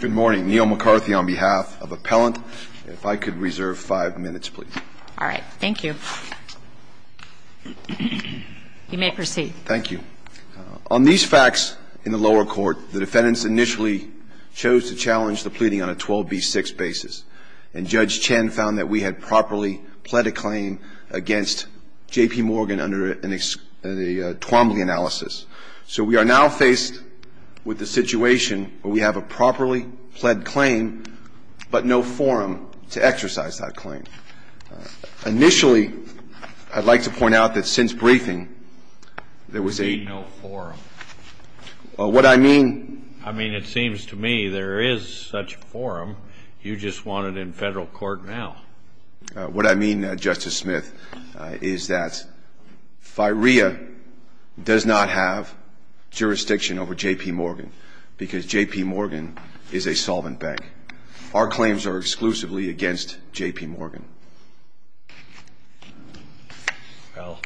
Good morning. Neil McCarthy on behalf of Appellant. If I could reserve five minutes, please. All right. Thank you. You may proceed. Thank you. On these facts in the lower court, the defendants initially chose to challenge the pleading on a 12B6 basis. And Judge Chen found that we had properly pled a claim against JPMorgan under a Twombly analysis. So we are now faced with the situation where we have a properly pled claim, but no forum to exercise that claim. Initially, I'd like to point out that since briefing, there was a no forum. What I mean, I mean, it seems to me there is such a forum. You just want it in federal court now. What I mean, Justice Smith, is that FIREA does not have jurisdiction over JPMorgan because JPMorgan is a solvent bank. Our claims are exclusively against JPMorgan. Well,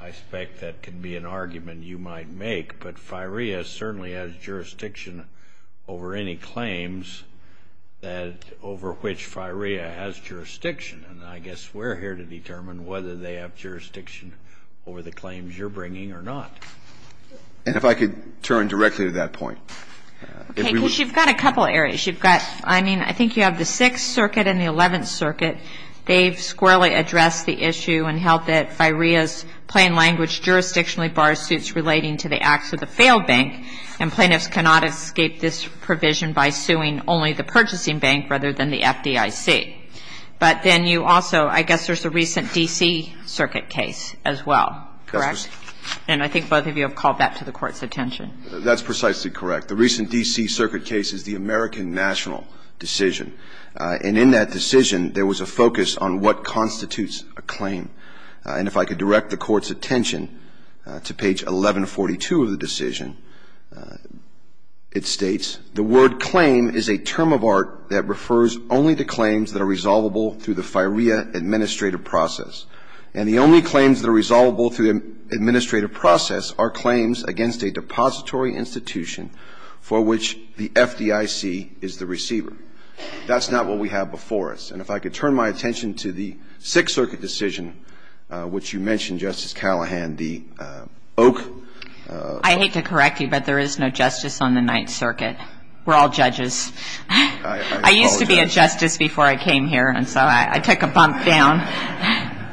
I expect that can be an argument you might make. But FIREA certainly has jurisdiction over any claims that over which FIREA has jurisdiction. And I guess we're here to determine whether they have jurisdiction over the claims you're bringing or not. And if I could turn directly to that point. Okay. Because you've got a couple areas. You've got, I mean, I think you have the Sixth Circuit and the Eleventh Circuit. They've squarely addressed the issue and held that FIREA's plain language jurisdictionally bars suits relating to the acts of the failed bank. And plaintiffs cannot escape this provision by suing only the purchasing bank rather than the FDIC. But then you also, I guess there's a recent D.C. Circuit case as well. Correct? And I think both of you have called that to the Court's attention. That's precisely correct. The recent D.C. Circuit case is the American national decision. And in that decision, there was a focus on what constitutes a claim. And if I could direct the Court's attention to page 1142 of the decision, it states, the word claim is a term of art that refers only to claims that are resolvable through the FIREA administrative process. And the only claims that are resolvable through the administrative process are claims against a depository institution for which the FDIC is the receiver. That's not what we have before us. And if I could turn my attention to the Sixth Circuit decision, which you mentioned, Justice Callahan, the Oak. I hate to correct you, but there is no justice on the Ninth Circuit. We're all judges. I used to be a justice before I came here, and so I took a bump down.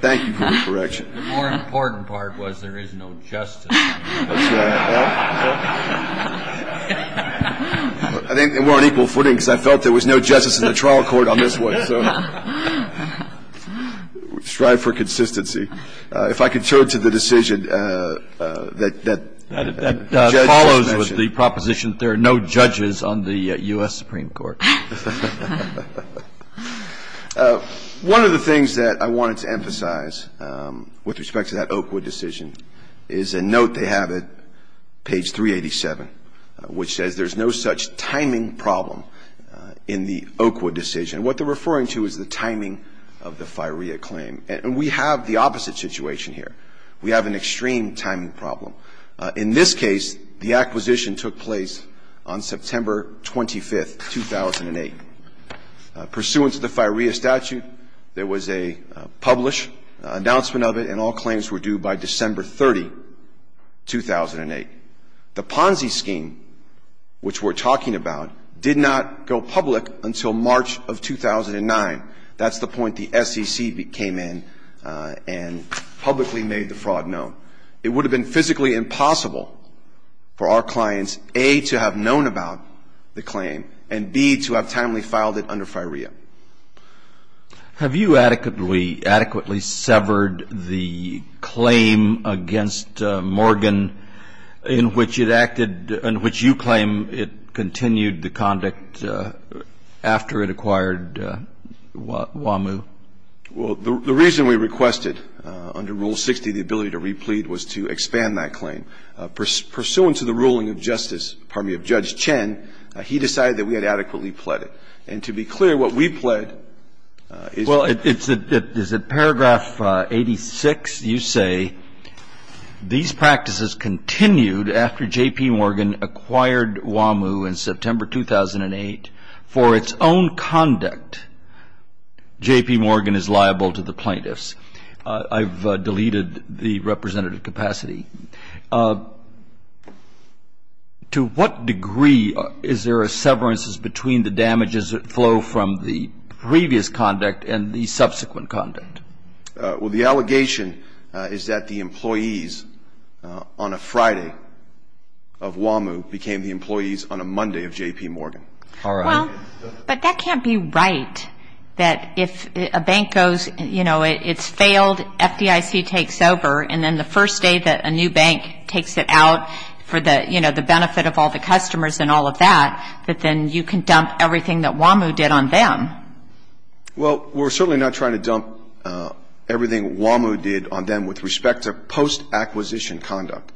Thank you for the correction. The more important part was there is no justice. I think we're on equal footing because I felt there was no justice in the trial court on this one. Strive for consistency. If I could turn to the decision that the judge just mentioned. That follows with the proposition that there are no judges on the U.S. Supreme Court. One of the things that I wanted to emphasize with respect to that Oakwood decision is a note they have at page 387, which says there's no such timing problem in the Oakwood decision. What they're referring to is the timing of the FIREA claim. And we have the opposite situation here. We have an extreme timing problem. In this case, the acquisition took place on September 25th, 2007. Pursuant to the FIREA statute, there was a published announcement of it, and all claims were due by December 30, 2008. The Ponzi scheme, which we're talking about, did not go public until March of 2009. That's the point the SEC came in and publicly made the fraud known. It would have been physically impossible for our clients, A, to have known about the claim, and, B, to have timely filed it under FIREA. Have you adequately severed the claim against Morgan in which it acted, in which you claim it continued the conduct after it acquired WAMU? Well, the reason we requested under Rule 60 the ability to replete was to expand that claim. And that's the reason why, in the case of WAMU, pursuant to the ruling of justice of Judge Chen, he decided that we had adequately pled it. And to be clear, what we pled is a ---- Well, is it paragraph 86? You say, these practices continued after J.P. Morgan acquired WAMU in September 2008. For its own conduct, J.P. Morgan is liable to the plaintiffs. I've deleted the representative capacity. To what degree is there a severance between the damages that flow from the previous conduct and the subsequent conduct? Well, the allegation is that the employees on a Friday of WAMU became the employees on a Monday of J.P. Morgan. All right. Well, but that can't be right, that if a bank goes, you know, it's failed, FDIC takes over, and then the first day that a new bank takes it out for the, you know, the benefit of all the customers and all of that, that then you can dump everything that WAMU did on them. Well, we're certainly not trying to dump everything WAMU did on them with respect to post-acquisition conduct.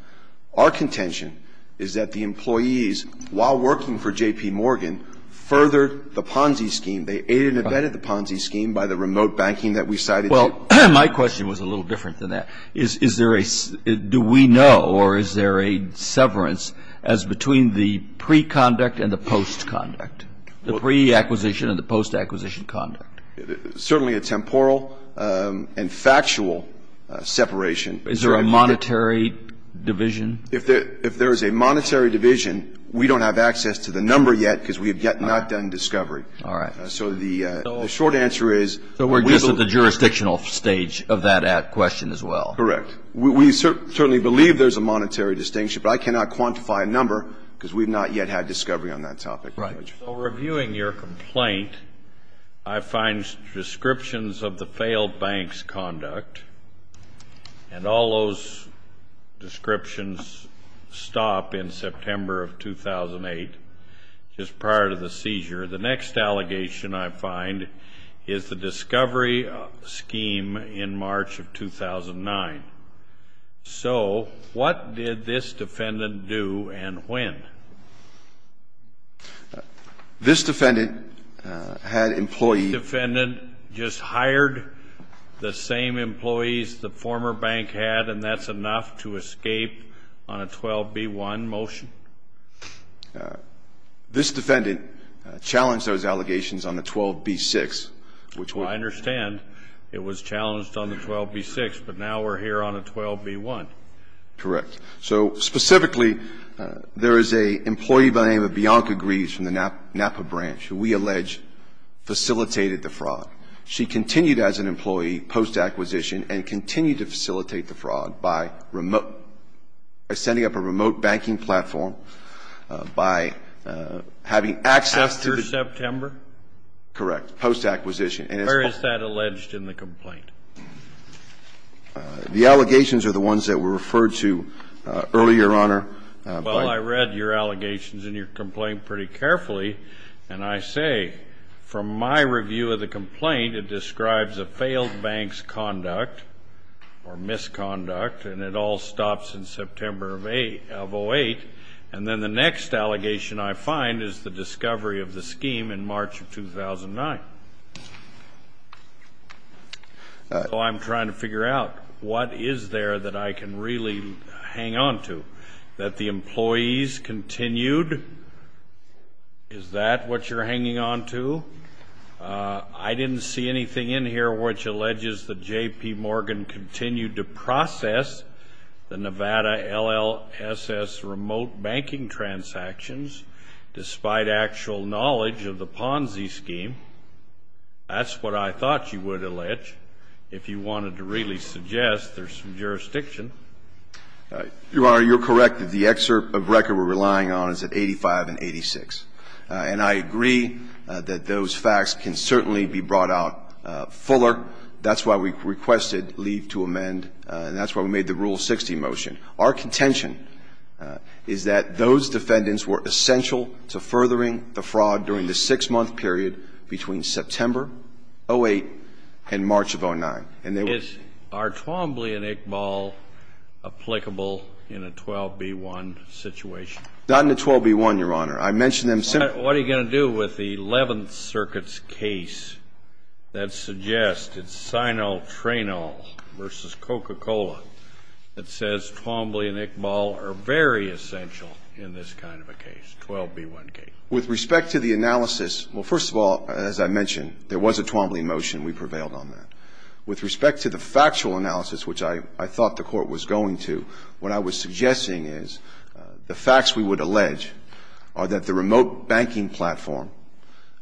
Our contention is that the employees, while working for J.P. Morgan, furthered the Ponzi scheme. They aided and abetted the Ponzi scheme by the remote banking that we cited. Well, my question was a little different than that. Is there a do we know or is there a severance as between the pre-conduct and the post-conduct, the pre-acquisition and the post-acquisition conduct? Certainly a temporal and factual separation. Is there a monetary division? If there is a monetary division, we don't have access to the number yet because we have yet not done discovery. All right. So the short answer is. So we're just at the jurisdictional stage of that question as well. Correct. We certainly believe there's a monetary distinction, but I cannot quantify a number because we've not yet had discovery on that topic. Right. So reviewing your complaint, I find descriptions of the failed bank's conduct, and all those descriptions stop in September of 2008, just prior to the seizure. The next allegation I find is the discovery scheme in March of 2009. So what did this defendant do and when? This defendant had employees. This defendant just hired the same employees the former bank had, and that's enough to escape on a 12b-1 motion? This defendant challenged those allegations on the 12b-6, which was. I understand it was challenged on the 12b-6, but now we're here on a 12b-1. Correct. So specifically, there is an employee by the name of Bianca Greaves from the Napa branch who we allege facilitated the fraud. She continued as an employee post-acquisition and continued to facilitate the fraud by sending up a remote banking platform, by having access to. After September? Correct. Post-acquisition. Or is that alleged in the complaint? The allegations are the ones that were referred to earlier, Your Honor. Well, I read your allegations in your complaint pretty carefully, and I say, from my review of the complaint, it describes a failed bank's conduct or misconduct, and it all stops in September of 2008. And then the next allegation I find is the discovery of the scheme in March of 2009. So I'm trying to figure out, what is there that I can really hang on to? That the employees continued? Is that what you're hanging on to? I didn't see anything in here which alleges that J.P. Morgan continued to process the Nevada LLSS transactions despite actual knowledge of the Ponzi scheme. That's what I thought you would allege, if you wanted to really suggest there's some jurisdiction. Your Honor, you're correct that the excerpt of record we're relying on is at 85 and 86. And I agree that those facts can certainly be brought out fuller. That's why we requested leave to amend, and that's why we made the Rule 60 motion. Our contention is that those defendants were essential to furthering the fraud during the six-month period between September of 2008 and March of 2009. And they were ---- Are Twombly and Iqbal applicable in a 12b-1 situation? Not in a 12b-1, Your Honor. I mentioned them simply ---- What are you going to do with the Eleventh Circuit's case that suggests it's Sino-Treno v. Coca-Cola that says Twombly and Iqbal are very essential in this kind of a case, 12b-1 case? With respect to the analysis, well, first of all, as I mentioned, there was a Twombly motion. We prevailed on that. With respect to the factual analysis, which I thought the Court was going to, what I was suggesting is the facts we would allege are that the remote banking platform,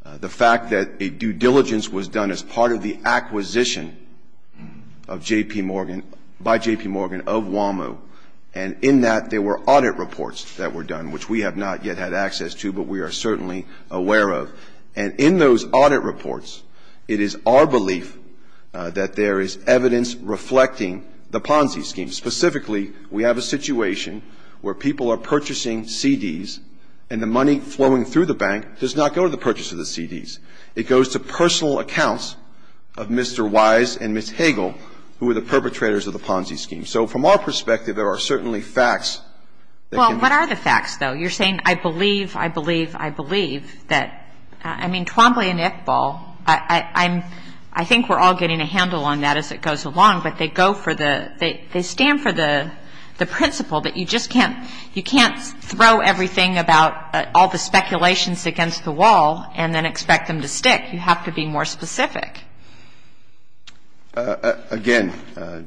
the fact that a due diligence was done as part of the acquisition of J.P. Morgan by J.P. Morgan of WAMO, and in that there were audit reports that were done, which we have not yet had access to, but we are certainly aware of. And in those audit reports, it is our belief that there is evidence reflecting the Ponzi scheme. Specifically, we have a situation where people are purchasing CDs, and the money flowing through the bank does not go to the purchase of the CDs. It goes to personal accounts of Mr. Wise and Ms. Hagel, who were the perpetrators of the Ponzi scheme. So from our perspective, there are certainly facts that can be found. Well, what are the facts, though? You're saying I believe, I believe, I believe that, I mean, Twombly and Iqbal, I'm ‑‑ I think we're all getting a handle on that as it goes along, but they go for the ‑‑ they stand for the principle that you just can't, you can't throw everything about, all the speculations against the wall and then expect them to stick. You have to be more specific. Again,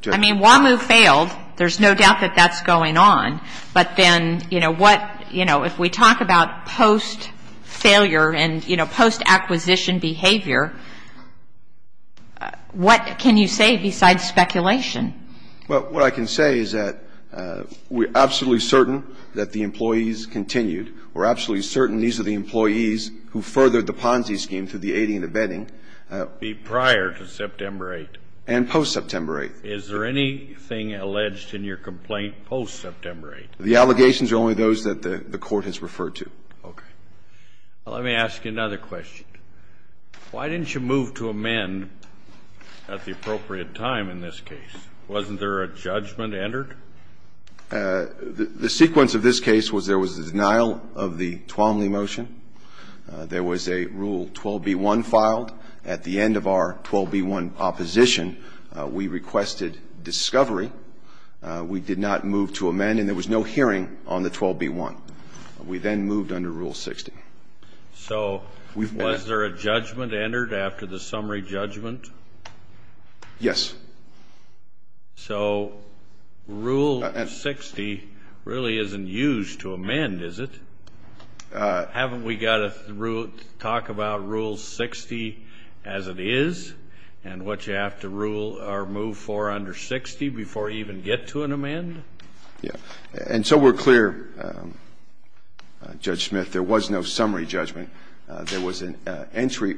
Justice ‑‑ I mean, WAMO failed. There's no doubt that that's going on. But then, you know, what, you know, if we talk about post‑failure and, you know, post‑acquisition behavior, what can you say besides speculation? Well, what I can say is that we're absolutely certain that the employees continued. We're absolutely certain these are the employees who furthered the Ponzi scheme through the aiding and abetting. Prior to September 8th? And post‑September 8th. Is there anything alleged in your complaint post‑September 8th? The allegations are only those that the court has referred to. Okay. Well, let me ask you another question. Why didn't you move to amend at the appropriate time in this case? Wasn't there a judgment entered? The sequence of this case was there was a denial of the Twomley motion. There was a Rule 12b‑1 filed. At the end of our 12b‑1 opposition, we requested discovery. We did not move to amend, and there was no hearing on the 12b‑1. We then moved under Rule 60. So was there a judgment entered after the summary judgment? Yes. So Rule 60 really isn't used to amend, is it? Haven't we got to talk about Rule 60 as it is and what you have to rule or move for under 60 before you even get to an amend? Yeah. And so we're clear, Judge Smith, there was no summary judgment. There was an entry ‑‑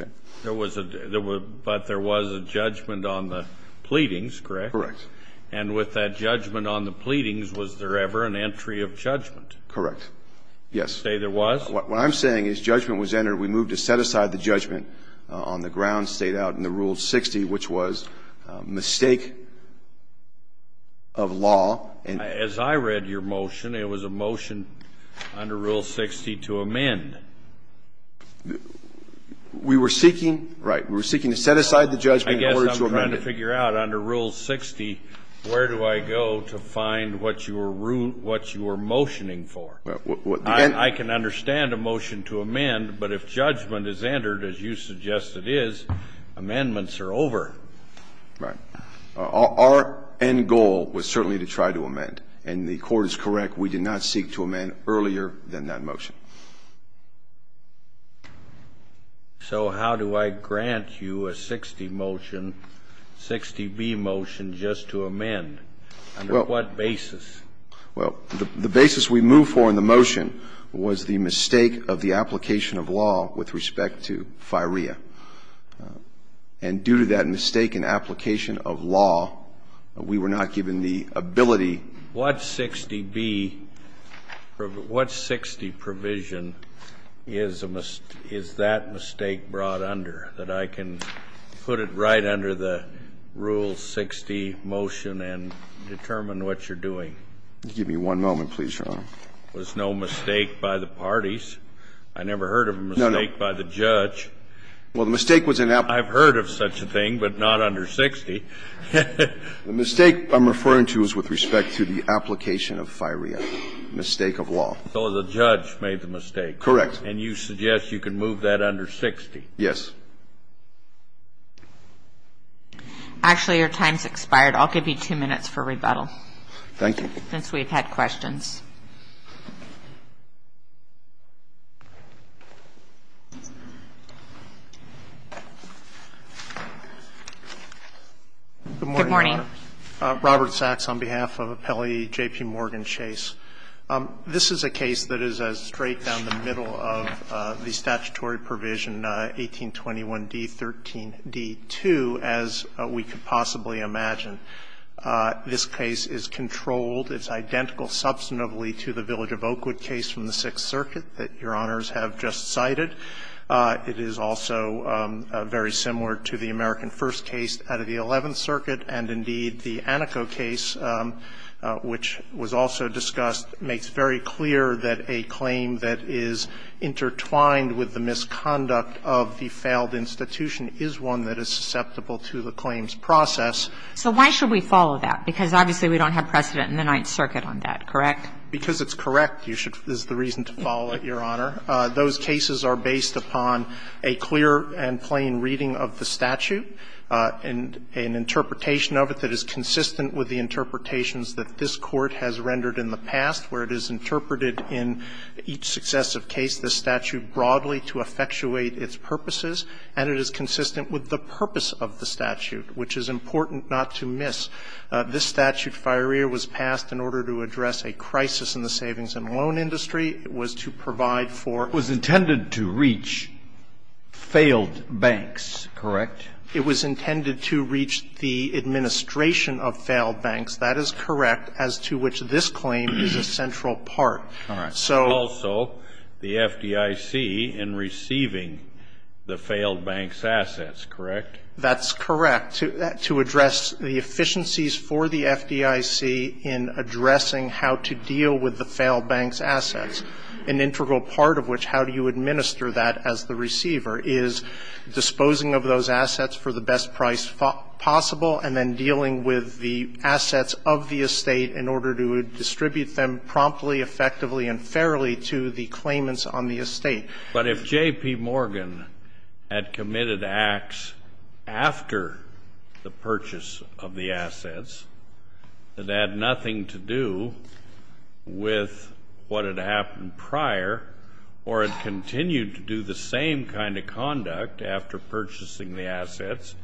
okay. There was a ‑‑ but there was a judgment on the pleadings, correct? Correct. And with that judgment on the pleadings, was there ever an entry of judgment? Correct. Yes. You say there was? What I'm saying is judgment was entered. We moved to set aside the judgment on the grounds stated out in the Rule 60, which was mistake of law. As I read your motion, it was a motion under Rule 60 to amend. We were seeking ‑‑ right. We were seeking to set aside the judgment in order to amend it. I guess I'm trying to figure out under Rule 60 where do I go to find what you were motioning for? I can understand a motion to amend, but if judgment is entered, as you suggest it is, amendments are over. Right. Our end goal was certainly to try to amend. And the Court is correct. We did not seek to amend earlier than that motion. So how do I grant you a 60 motion, 60B motion just to amend? Under what basis? Well, the basis we moved for in the motion was the mistake of the application of law with respect to FIREA. And due to that mistake in application of law, we were not given the ability. What 60B ‑‑ what 60 provision is that mistake brought under that I can put it right under the Rule 60 motion and determine what you're doing? Give me one moment, please, Your Honor. It was no mistake by the parties. I never heard of a mistake by the judge. No, no. Well, the mistake was in ‑‑ I've heard of such a thing, but not under 60. The mistake I'm referring to is with respect to the application of FIREA, mistake of law. So the judge made the mistake. Correct. And you suggest you can move that under 60? Yes. Actually, your time's expired. I'll give you two minutes for rebuttal. Thank you. Since we've had questions. Good morning, Your Honor. Good morning. Robert Sachs on behalf of Appellee J.P. Morgan Chase. This is a case that is straight down the middle of the statutory provision 1821d13d2, as we could possibly imagine. This case is controlled. It's identical substantively to the Village of Oakwood case from the Sixth Circuit that Your Honors have just cited. It is also very similar to the American First case out of the Eleventh Circuit. And indeed, the Aneco case, which was also discussed, makes very clear that a claim that is intertwined with the misconduct of the failed institution is one that is susceptible to the claims process. So why should we follow that? Because obviously we don't have precedent in the Ninth Circuit on that, correct? Because it's correct, is the reason to follow it, Your Honor. Those cases are based upon a clear and plain reading of the statute and an interpretation of it that is consistent with the interpretations that this Court has rendered in the past, where it is interpreted in each successive case this statute broadly to effectuate its purposes, and it is consistent with the purpose of the statute, which is important not to miss. This statute, FireEar, was passed in order to address a crisis in the savings and loan industry. It was to provide for. It was intended to reach failed banks, correct? It was intended to reach the administration of failed banks. That is correct, as to which this claim is a central part. So. Also the FDIC in receiving the failed banks' assets, correct? That's correct. To address the efficiencies for the FDIC in addressing how to deal with the failed banks' assets, an integral part of which, how do you administer that as the receiver, is disposing of those assets for the best price possible and then dealing with the claimants on the estate. But if J.P. Morgan had committed acts after the purchase of the assets that had nothing to do with what had happened prior or had continued to do the same kind of conduct after purchasing the assets,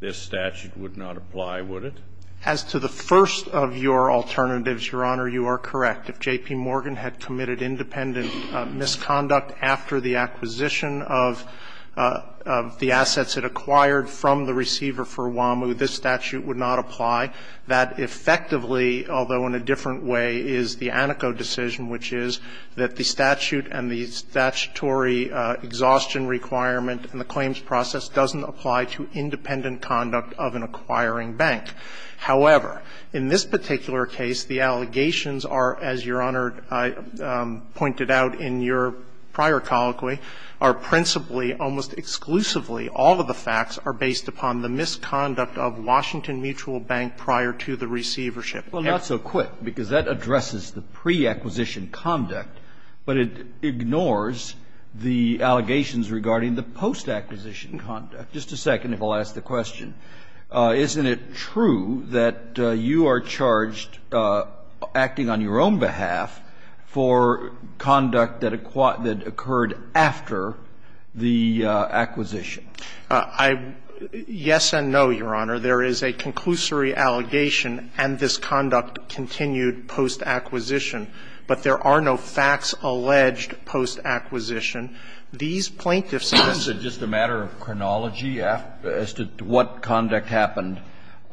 this statute would not apply, would it? As to the first of your alternatives, Your Honor, you are correct. If J.P. Morgan had committed independent misconduct after the acquisition of the assets it acquired from the receiver for WAMU, this statute would not apply. That effectively, although in a different way, is the Aneco decision, which is that the statute and the statutory exhaustion requirement and the claims process doesn't apply to independent conduct of an acquiring bank. However, in this particular case, the allegations are, as Your Honor pointed out in your prior colloquy, are principally, almost exclusively, all of the facts are based upon the misconduct of Washington Mutual Bank prior to the receivership. Well, not so quick, because that addresses the pre-acquisition conduct, but it ignores the allegations regarding the post-acquisition conduct. Just a second, if I'll ask the question. Isn't it true that you are charged, acting on your own behalf, for conduct that occurred after the acquisition? Yes and no, Your Honor. There is a conclusory allegation and this conduct continued post-acquisition, but there are no facts alleged post-acquisition. These plaintiffs have said. Is it just a matter of chronology as to what conduct happened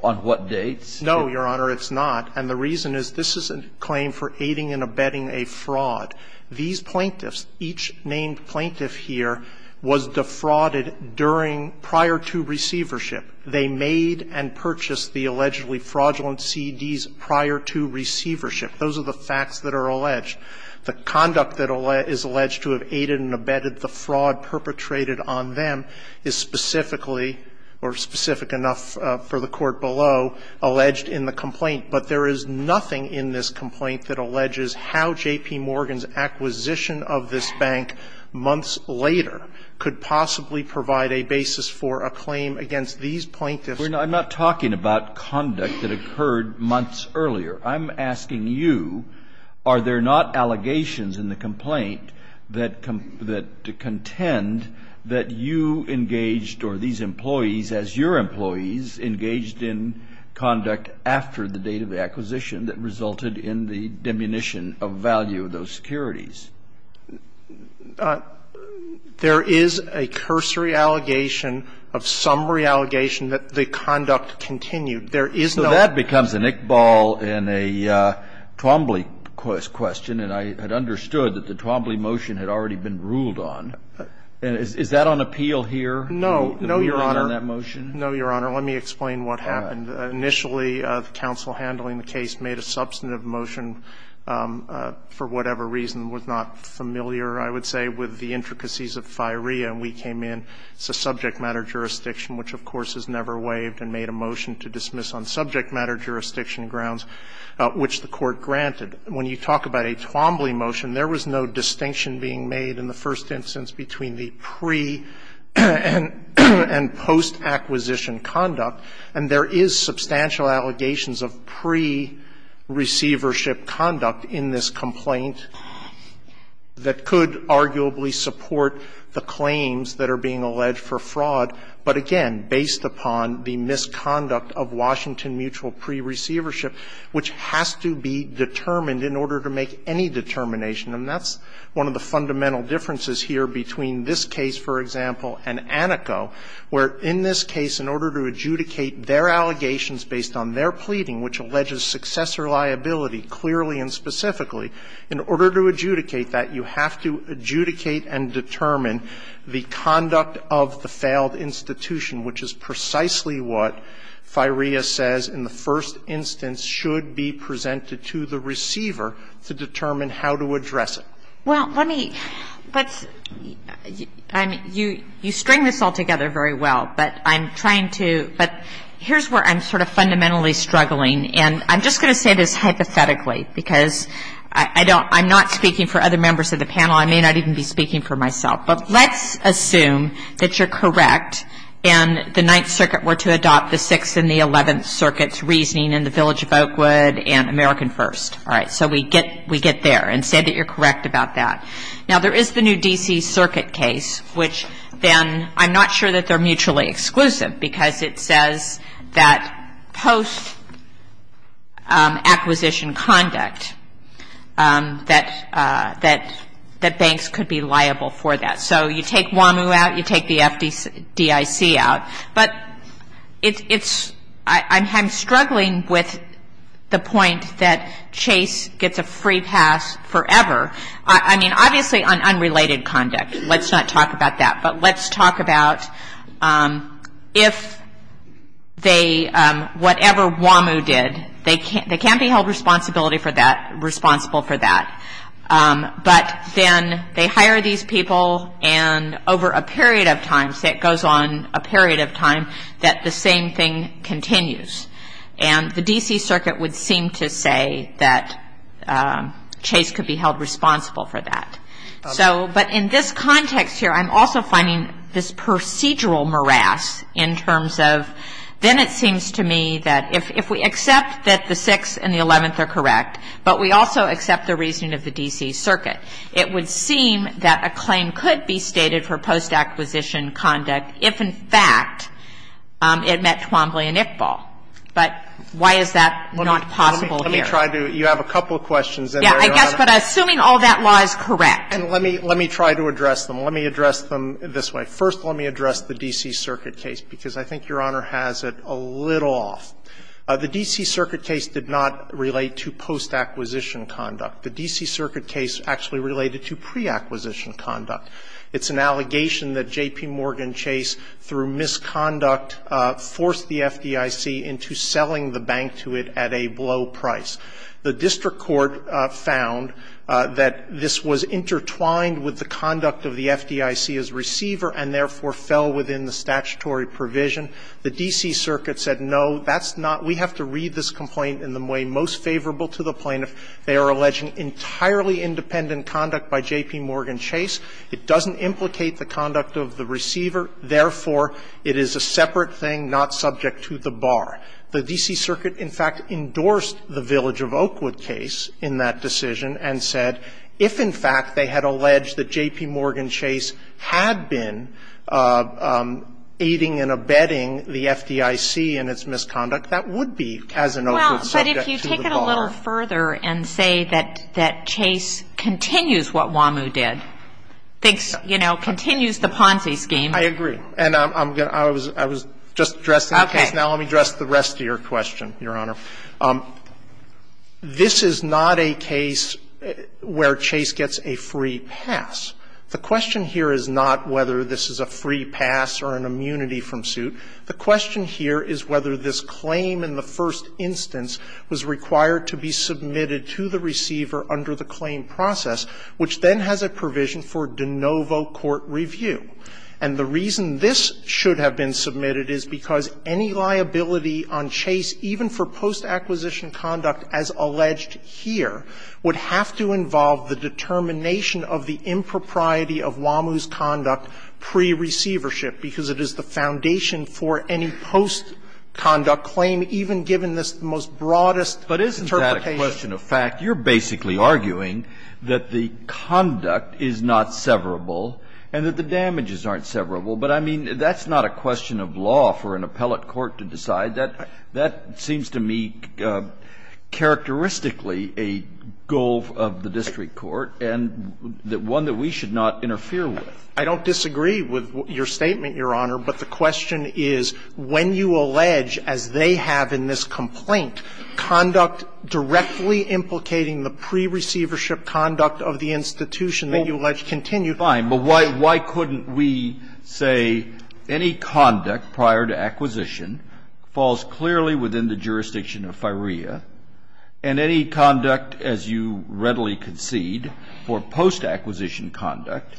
on what dates? No, Your Honor, it's not. And the reason is this is a claim for aiding and abetting a fraud. These plaintiffs, each named plaintiff here, was defrauded during prior to receivership. They made and purchased the allegedly fraudulent CDs prior to receivership. Those are the facts that are alleged. The conduct that is alleged to have aided and abetted the fraud perpetrated on them is specifically, or specific enough for the Court below, alleged in the complaint. But there is nothing in this complaint that alleges how J.P. Morgan's acquisition of this bank months later could possibly provide a basis for a claim against these plaintiffs. I'm not talking about conduct that occurred months earlier. I'm asking you, are there not allegations in the complaint that contend that you engaged or these employees, as your employees, engaged in conduct after the date of acquisition that resulted in the diminution of value of those securities? There is a cursory allegation of summary allegation that the conduct continued. There is no other. Kennedy, I know that it becomes an ickball and a Twombly question, and I had understood that the Twombly motion had already been ruled on. Is that on appeal here? No, Your Honor. No, Your Honor. Let me explain what happened. Initially, the counsel handling the case made a substantive motion for whatever reason was not familiar, I would say, with the intricacies of firea, and we came in. It's a subject matter jurisdiction, which, of course, has never waived, and made a motion to dismiss on subject matter jurisdiction grounds, which the Court granted. When you talk about a Twombly motion, there was no distinction being made in the first instance between the pre- and post-acquisition conduct, and there is substantial allegations of pre-receivership conduct in this complaint that could arguably support the claims that are being alleged for fraud, but again, based upon the misconduct of Washington mutual pre-receivership, which has to be determined in order to make any determination, and that's one of the fundamental differences here between this case, for example, and Aneco, where in this case, in order to adjudicate their allegations based on their pleading, which alleges successor liability, clearly and specifically, in order to adjudicate that, you have to adjudicate and determine the conduct of the failed institution, which is precisely what firea says in the first instance should be presented to the receiver to determine how to address it. Well, let me – but you string this all together very well, but I'm trying to – but here's where I'm sort of fundamentally struggling, and I'm just going to say this hypothetically, because I don't – I'm not speaking for other members of the panel. I may not even be speaking for myself, but let's assume that you're correct, and the Ninth Circuit were to adopt the Sixth and the Eleventh Circuit's reasoning in the Village of Oakwood and American First, all right? So we get there and say that you're correct about that. Now there is the new D.C. Circuit case, which then – I'm not sure that they're mutually exclusive, because it says that post-acquisition conduct, that banks could be liable for that. So you take WAMU out, you take the FDIC out, but it's – I'm struggling with the point that Chase gets a free pass forever, I mean, obviously on unrelated conduct. Let's not talk about that, but let's talk about if they – whatever WAMU did, they can't be held responsible for that, but then they hire these people, and over a period of time, say it goes on a period of time, that the same thing continues. And the D.C. Circuit would seem to say that Chase could be held responsible for that. So – but in this context here, I'm also finding this procedural morass in terms of then it seems to me that if we accept that the Sixth and the Eleventh are correct, but we also accept the reasoning of the D.C. Circuit, it would seem that a claim could be stated for post-acquisition conduct if, in fact, it met Twombly and Iqbal. But why is that not possible here? Let me try to – you have a couple of questions in there. Sotomayor, I guess, but assuming all that law is correct. And let me – let me try to address them. Let me address them this way. First, let me address the D.C. Circuit case, because I think Your Honor has it a little off. The D.C. Circuit case did not relate to post-acquisition conduct. The D.C. Circuit case actually related to pre-acquisition conduct. It's an allegation that J.P. Morgan Chase, through misconduct, forced the FDIC into selling the bank to it at a low price. The district court found that this was intertwined with the conduct of the FDIC's receiver and therefore fell within the statutory provision. The D.C. Circuit said, no, that's not – we have to read this complaint in the way most favorable to the plaintiff. They are alleging entirely independent conduct by J.P. Morgan Chase. It doesn't implicate the conduct of the receiver. The D.C. Circuit, in fact, endorsed the Village of Oakwood case in that decision and said if, in fact, they had alleged that J.P. Morgan Chase had been aiding and abetting the FDIC in its misconduct, that would be, as in Oakwood, subject to the bar. Well, but if you take it a little further and say that Chase continues what Wamu did, thinks, you know, continues the Ponzi scheme. I agree. And I'm going to – I was just addressing the case. Okay. Now let me address the rest of your question, Your Honor. This is not a case where Chase gets a free pass. The question here is not whether this is a free pass or an immunity from suit. The question here is whether this claim in the first instance was required to be submitted to the receiver under the claim process, which then has a provision for de novo court review. And the reason this should have been submitted is because any liability on Chase, even for post-acquisition conduct as alleged here, would have to involve the determination of the impropriety of Wamu's conduct pre-receivership, because it is the foundation for any post-conduct claim, even given this most broadest interpretation. But isn't that a question of fact? You're basically arguing that the conduct is not severable and that the damages aren't severable, but I mean, that's not a question of law for an appellate court to decide. That seems to me characteristically a goal of the district court and one that we should not interfere with. I don't disagree with your statement, Your Honor, but the question is when you allege, as they have in this complaint, conduct directly implicating the pre-receivership conduct of the institution that you allege continues. Fine. But why couldn't we say any conduct prior to acquisition falls clearly within the jurisdiction of FIREA, and any conduct, as you readily concede, for post-acquisition conduct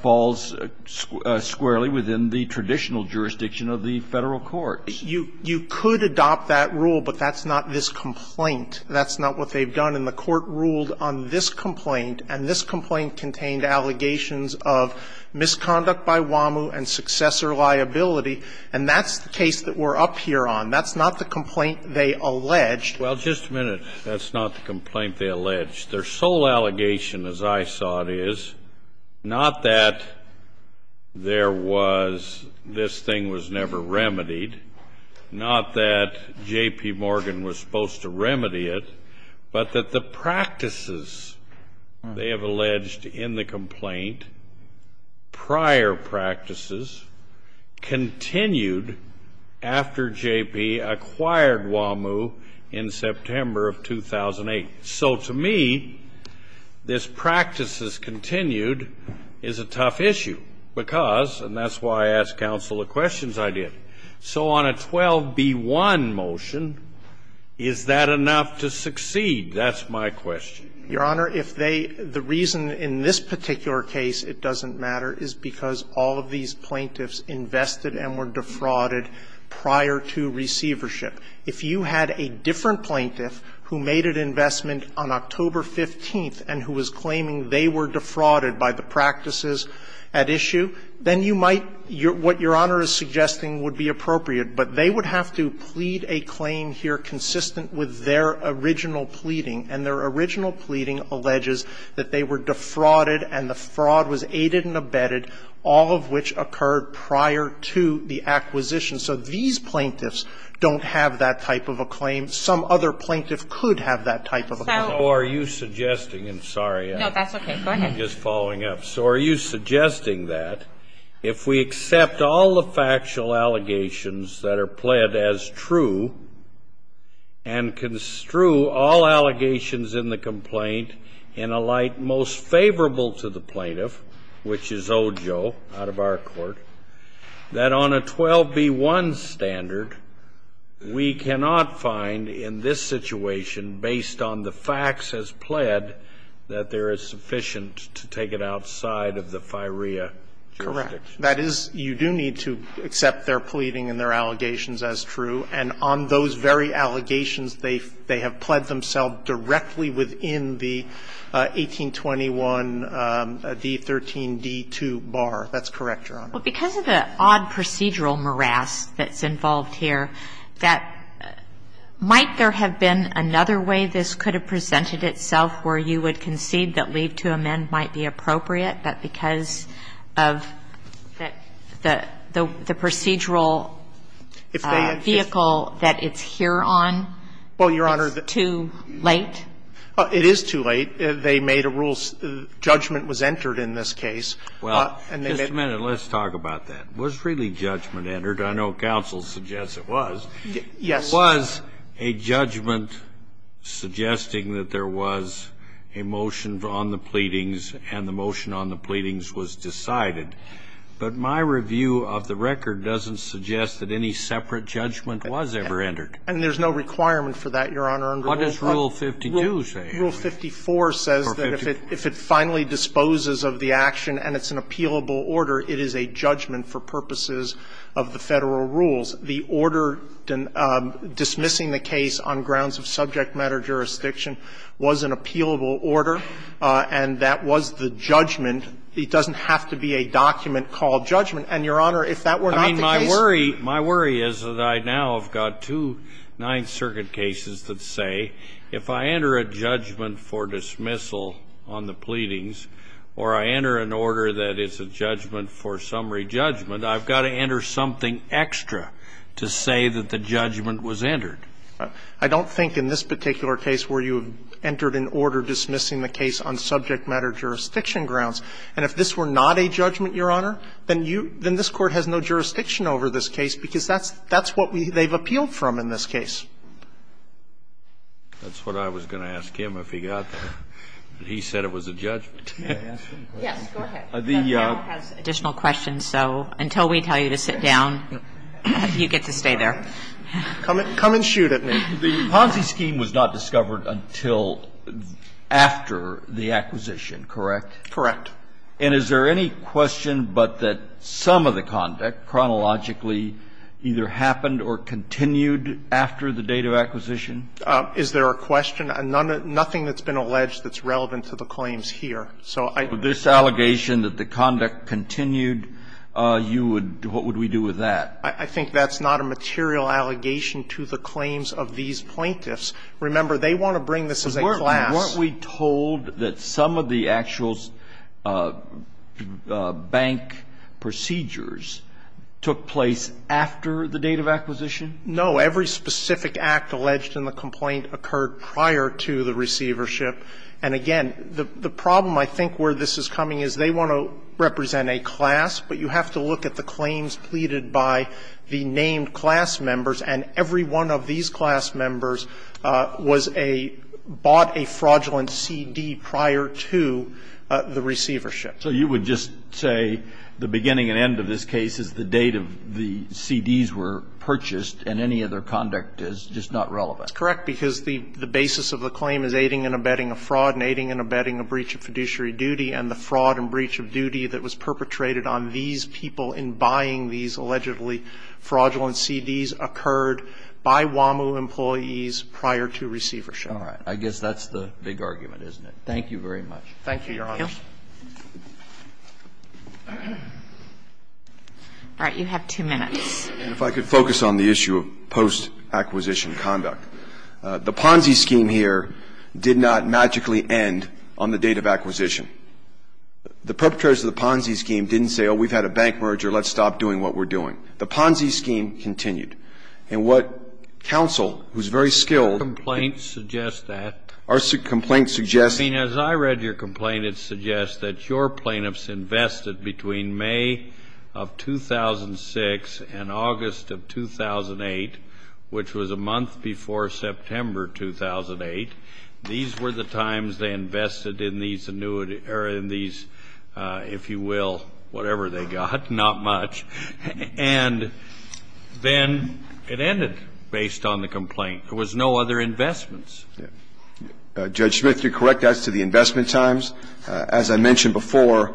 falls squarely within the traditional jurisdiction of the Federal courts? You could adopt that rule, but that's not this complaint. That's not what they've done. And the Court ruled on this complaint, and this complaint contained allegations of misconduct by WAMU and successor liability, and that's the case that we're up here on. That's not the complaint they alleged. Well, just a minute. That's not the complaint they alleged. Their sole allegation, as I saw it, is not that there was this thing was never remedied. Not that J.P. Morgan was supposed to remedy it, but that the practices they have alleged in the complaint, prior practices, continued after J.P. acquired WAMU in September of 2008. So to me, this practices continued is a tough issue because, and that's why I asked counsel the questions I did. So on a 12b-1 motion, is that enough to succeed? That's my question. Your Honor, if they the reason in this particular case it doesn't matter is because all of these plaintiffs invested and were defrauded prior to receivership. If you had a different plaintiff who made an investment on October 15th and who was claiming they were defrauded by the practices at issue, then you might, what Your Honor, would be appropriate, but they would have to plead a claim here consistent with their original pleading, and their original pleading alleges that they were defrauded and the fraud was aided and abetted, all of which occurred prior to the acquisition. So these plaintiffs don't have that type of a claim. Some other plaintiff could have that type of a claim. So are you suggesting, and sorry, I'm just following up, so are you suggesting that if we accept all the factual allegations that are pled as true and construe all allegations in the complaint in a light most favorable to the plaintiff, which is Ojo, out of our court, that on a 12b-1 standard, we cannot find in this situation based on the facts as pled that there is sufficient to take it outside of the North Korea jurisdiction? Correct. That is, you do need to accept their pleading and their allegations as true, and on those very allegations, they have pled themselves directly within the 1821d-13d-2 bar. That's correct, Your Honor. But because of the odd procedural morass that's involved here, that might there have been another way this could have presented itself where you would concede that leave to amend might be appropriate, but because of the procedural vehicle that it's here on, it's too late? Well, Your Honor, it is too late. They made a rule, judgment was entered in this case. Well, just a minute. Let's talk about that. Was really judgment entered? I know counsel suggests it was. Yes. It was a judgment suggesting that there was a motion on the pleadings, and the motion on the pleadings was decided. But my review of the record doesn't suggest that any separate judgment was ever entered. And there's no requirement for that, Your Honor. What does Rule 52 say? Rule 54 says that if it finally disposes of the action and it's an appealable order, it is a judgment for purposes of the Federal rules. The order dismissing the case on grounds of subject matter jurisdiction was an appealable order, and that was the judgment. It doesn't have to be a document called judgment. And, Your Honor, if that were not the case we would be in trouble. I mean, my worry is that I now have got two Ninth Circuit cases that say if I enter a judgment for dismissal on the pleadings or I enter an order that is a judgment for summary judgment, I've got to enter something extra to say that the judgment was entered. I don't think in this particular case where you entered an order dismissing the case on subject matter jurisdiction grounds, and if this were not a judgment, Your Honor, then you then this Court has no jurisdiction over this case because that's that's what we they've appealed from in this case. That's what I was going to ask him if he got that. He said it was a judgment. Yes, go ahead. The Additional questions. So until we tell you to sit down, you get to stay there. Come and shoot at me. The Ponzi scheme was not discovered until after the acquisition, correct? Correct. And is there any question but that some of the conduct chronologically either happened or continued after the date of acquisition? Is there a question? Nothing that's been alleged that's relevant to the claims here. So I This allegation that the conduct continued, you would, what would we do with that? I think that's not a material allegation to the claims of these plaintiffs. Remember, they want to bring this as a class. Weren't we told that some of the actual bank procedures took place after the date of acquisition? No. Every specific act alleged in the complaint occurred prior to the receivership. And again, the problem, I think, where this is coming is they want to represent a class, but you have to look at the claims pleaded by the named class members, and every one of these class members was a – bought a fraudulent CD prior to the receivership. So you would just say the beginning and end of this case is the date of the CDs were purchased and any other conduct is just not relevant? That's correct, because the basis of the claim is aiding and abetting a fraud and aiding and abetting a breach of fiduciary duty, and the fraud and breach of duty that was perpetrated on these people in buying these allegedly fraudulent CDs occurred by WAMU employees prior to receivership. All right. I guess that's the big argument, isn't it? Thank you very much. Thank you, Your Honor. Thank you. All right. You have two minutes. And if I could focus on the issue of post-acquisition conduct. The Ponzi scheme here did not magically end on the date of acquisition. The perpetrators of the Ponzi scheme didn't say, oh, we've had a bank merger, let's stop doing what we're doing. The Ponzi scheme continued. And what counsel, who's very skilled – Our complaint suggests that. Our complaint suggests – I mean, as I read your complaint, it suggests that your plaintiffs invested between May of 2006 and August of 2008, which was a month before September 2008, these were the times they invested in these, if you will, whatever they got, not much, and then it ended based on the complaint. There was no other investments. Judge Smith, you're correct as to the investment times. As I mentioned before,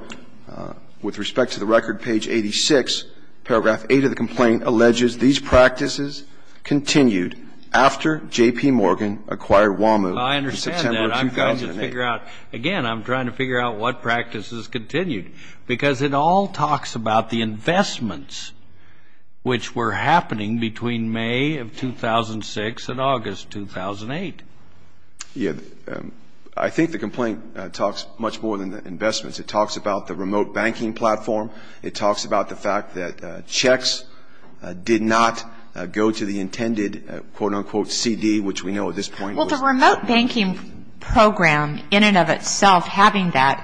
with respect to the record, page 86, paragraph 8 of the complaint alleges these practices continued after J.P. Morgan acquired WAMU in September of 2008. Again, I'm trying to figure out what practices continued, because it all talks about the investments which were happening between May of 2006 and August 2008. Yeah, I think the complaint talks much more than the investments. It talks about the remote banking platform. It talks about the fact that checks did not go to the intended, quote-unquote, CD, which we know at this point – Well, the remote banking program in and of itself having that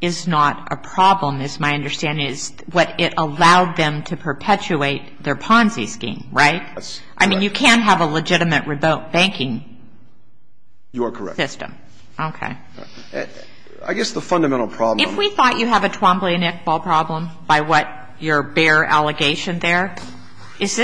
is not a problem, is my understanding, is what it allowed them to perpetuate their Ponzi scheme, right? I mean, you can't have a legitimate remote banking system. You are correct. Okay. I guess the fundamental problem – If we thought you have a Twombly-Nickball problem by what your bare allegation there, is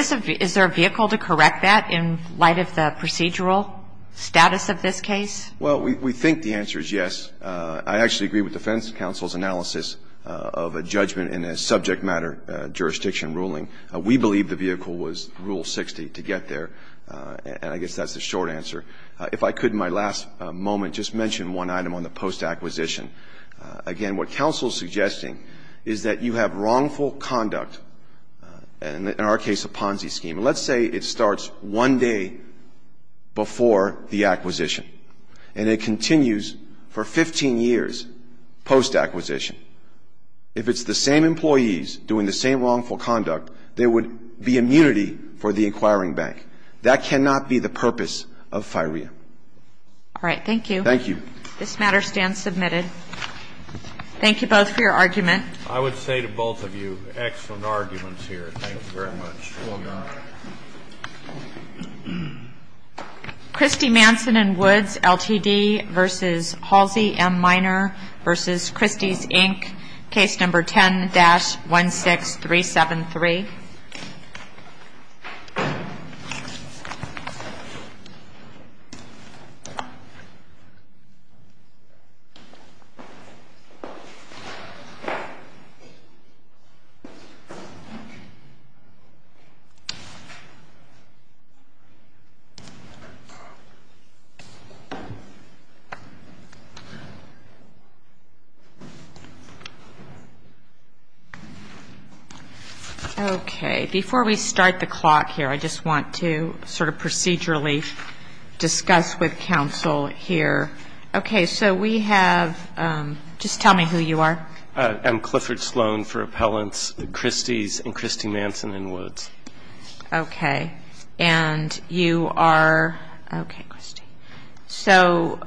there a vehicle to correct that in light of the procedural status of this case? Well, we think the answer is yes. I actually agree with defense counsel's analysis of a judgment in a subject matter jurisdiction ruling. We believe the vehicle was Rule 60 to get there, and I guess that's the short answer. If I could, in my last moment, just mention one item on the post-acquisition. Again, what counsel is suggesting is that you have wrongful conduct, and in our case, a Ponzi scheme. Let's say it starts one day before the acquisition, and it continues for 15 years post-acquisition. If it's the same employees doing the same wrongful conduct, there would be immunity for the acquiring bank. That cannot be the purpose of FIREA. All right. Thank you. Thank you. This matter stands submitted. Thank you both for your argument. I would say to both of you, excellent arguments here. Thanks very much. Well done. Christy Manson and Woods, LTD v. Halsey, M. Minor v. Christy's, Inc., case number 10-16373. Okay. Before we start the clock here, I just want to sort of procedurally discuss with counsel here. Okay. So we have, just tell me who you are. I'm Clifford Sloan for Appellants, Christy's, and Christy Manson and Woods. Okay. And you are, okay, Christy. So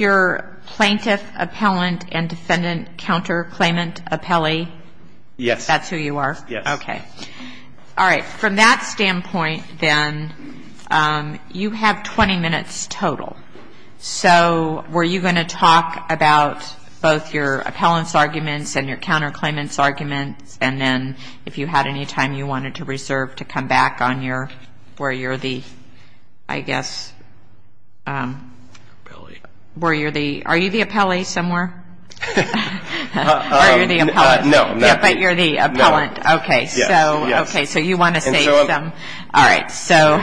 you're plaintiff, appellant, and defendant counterclaimant appellee? Yes. That's who you are? Yes. Okay. All right. From that standpoint then, you have 20 minutes total. So were you going to talk about both your appellant's arguments and your counterclaimant's and if you had any time you wanted to reserve to come back on your, where you're the, I guess, where you're the, are you the appellee somewhere? Or are you the appellant? No, I'm not. But you're the appellant. Okay. Yes. Okay. So you want to say some, all right. So,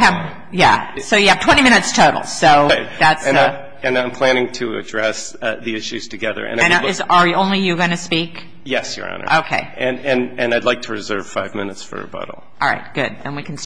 yeah. So you have 20 minutes total. So that's. And I'm planning to address the issues together. And are only you going to speak? Yes, Your Honor. Okay. And I'd like to reserve five minutes for rebuttal. All right. Good. And we can.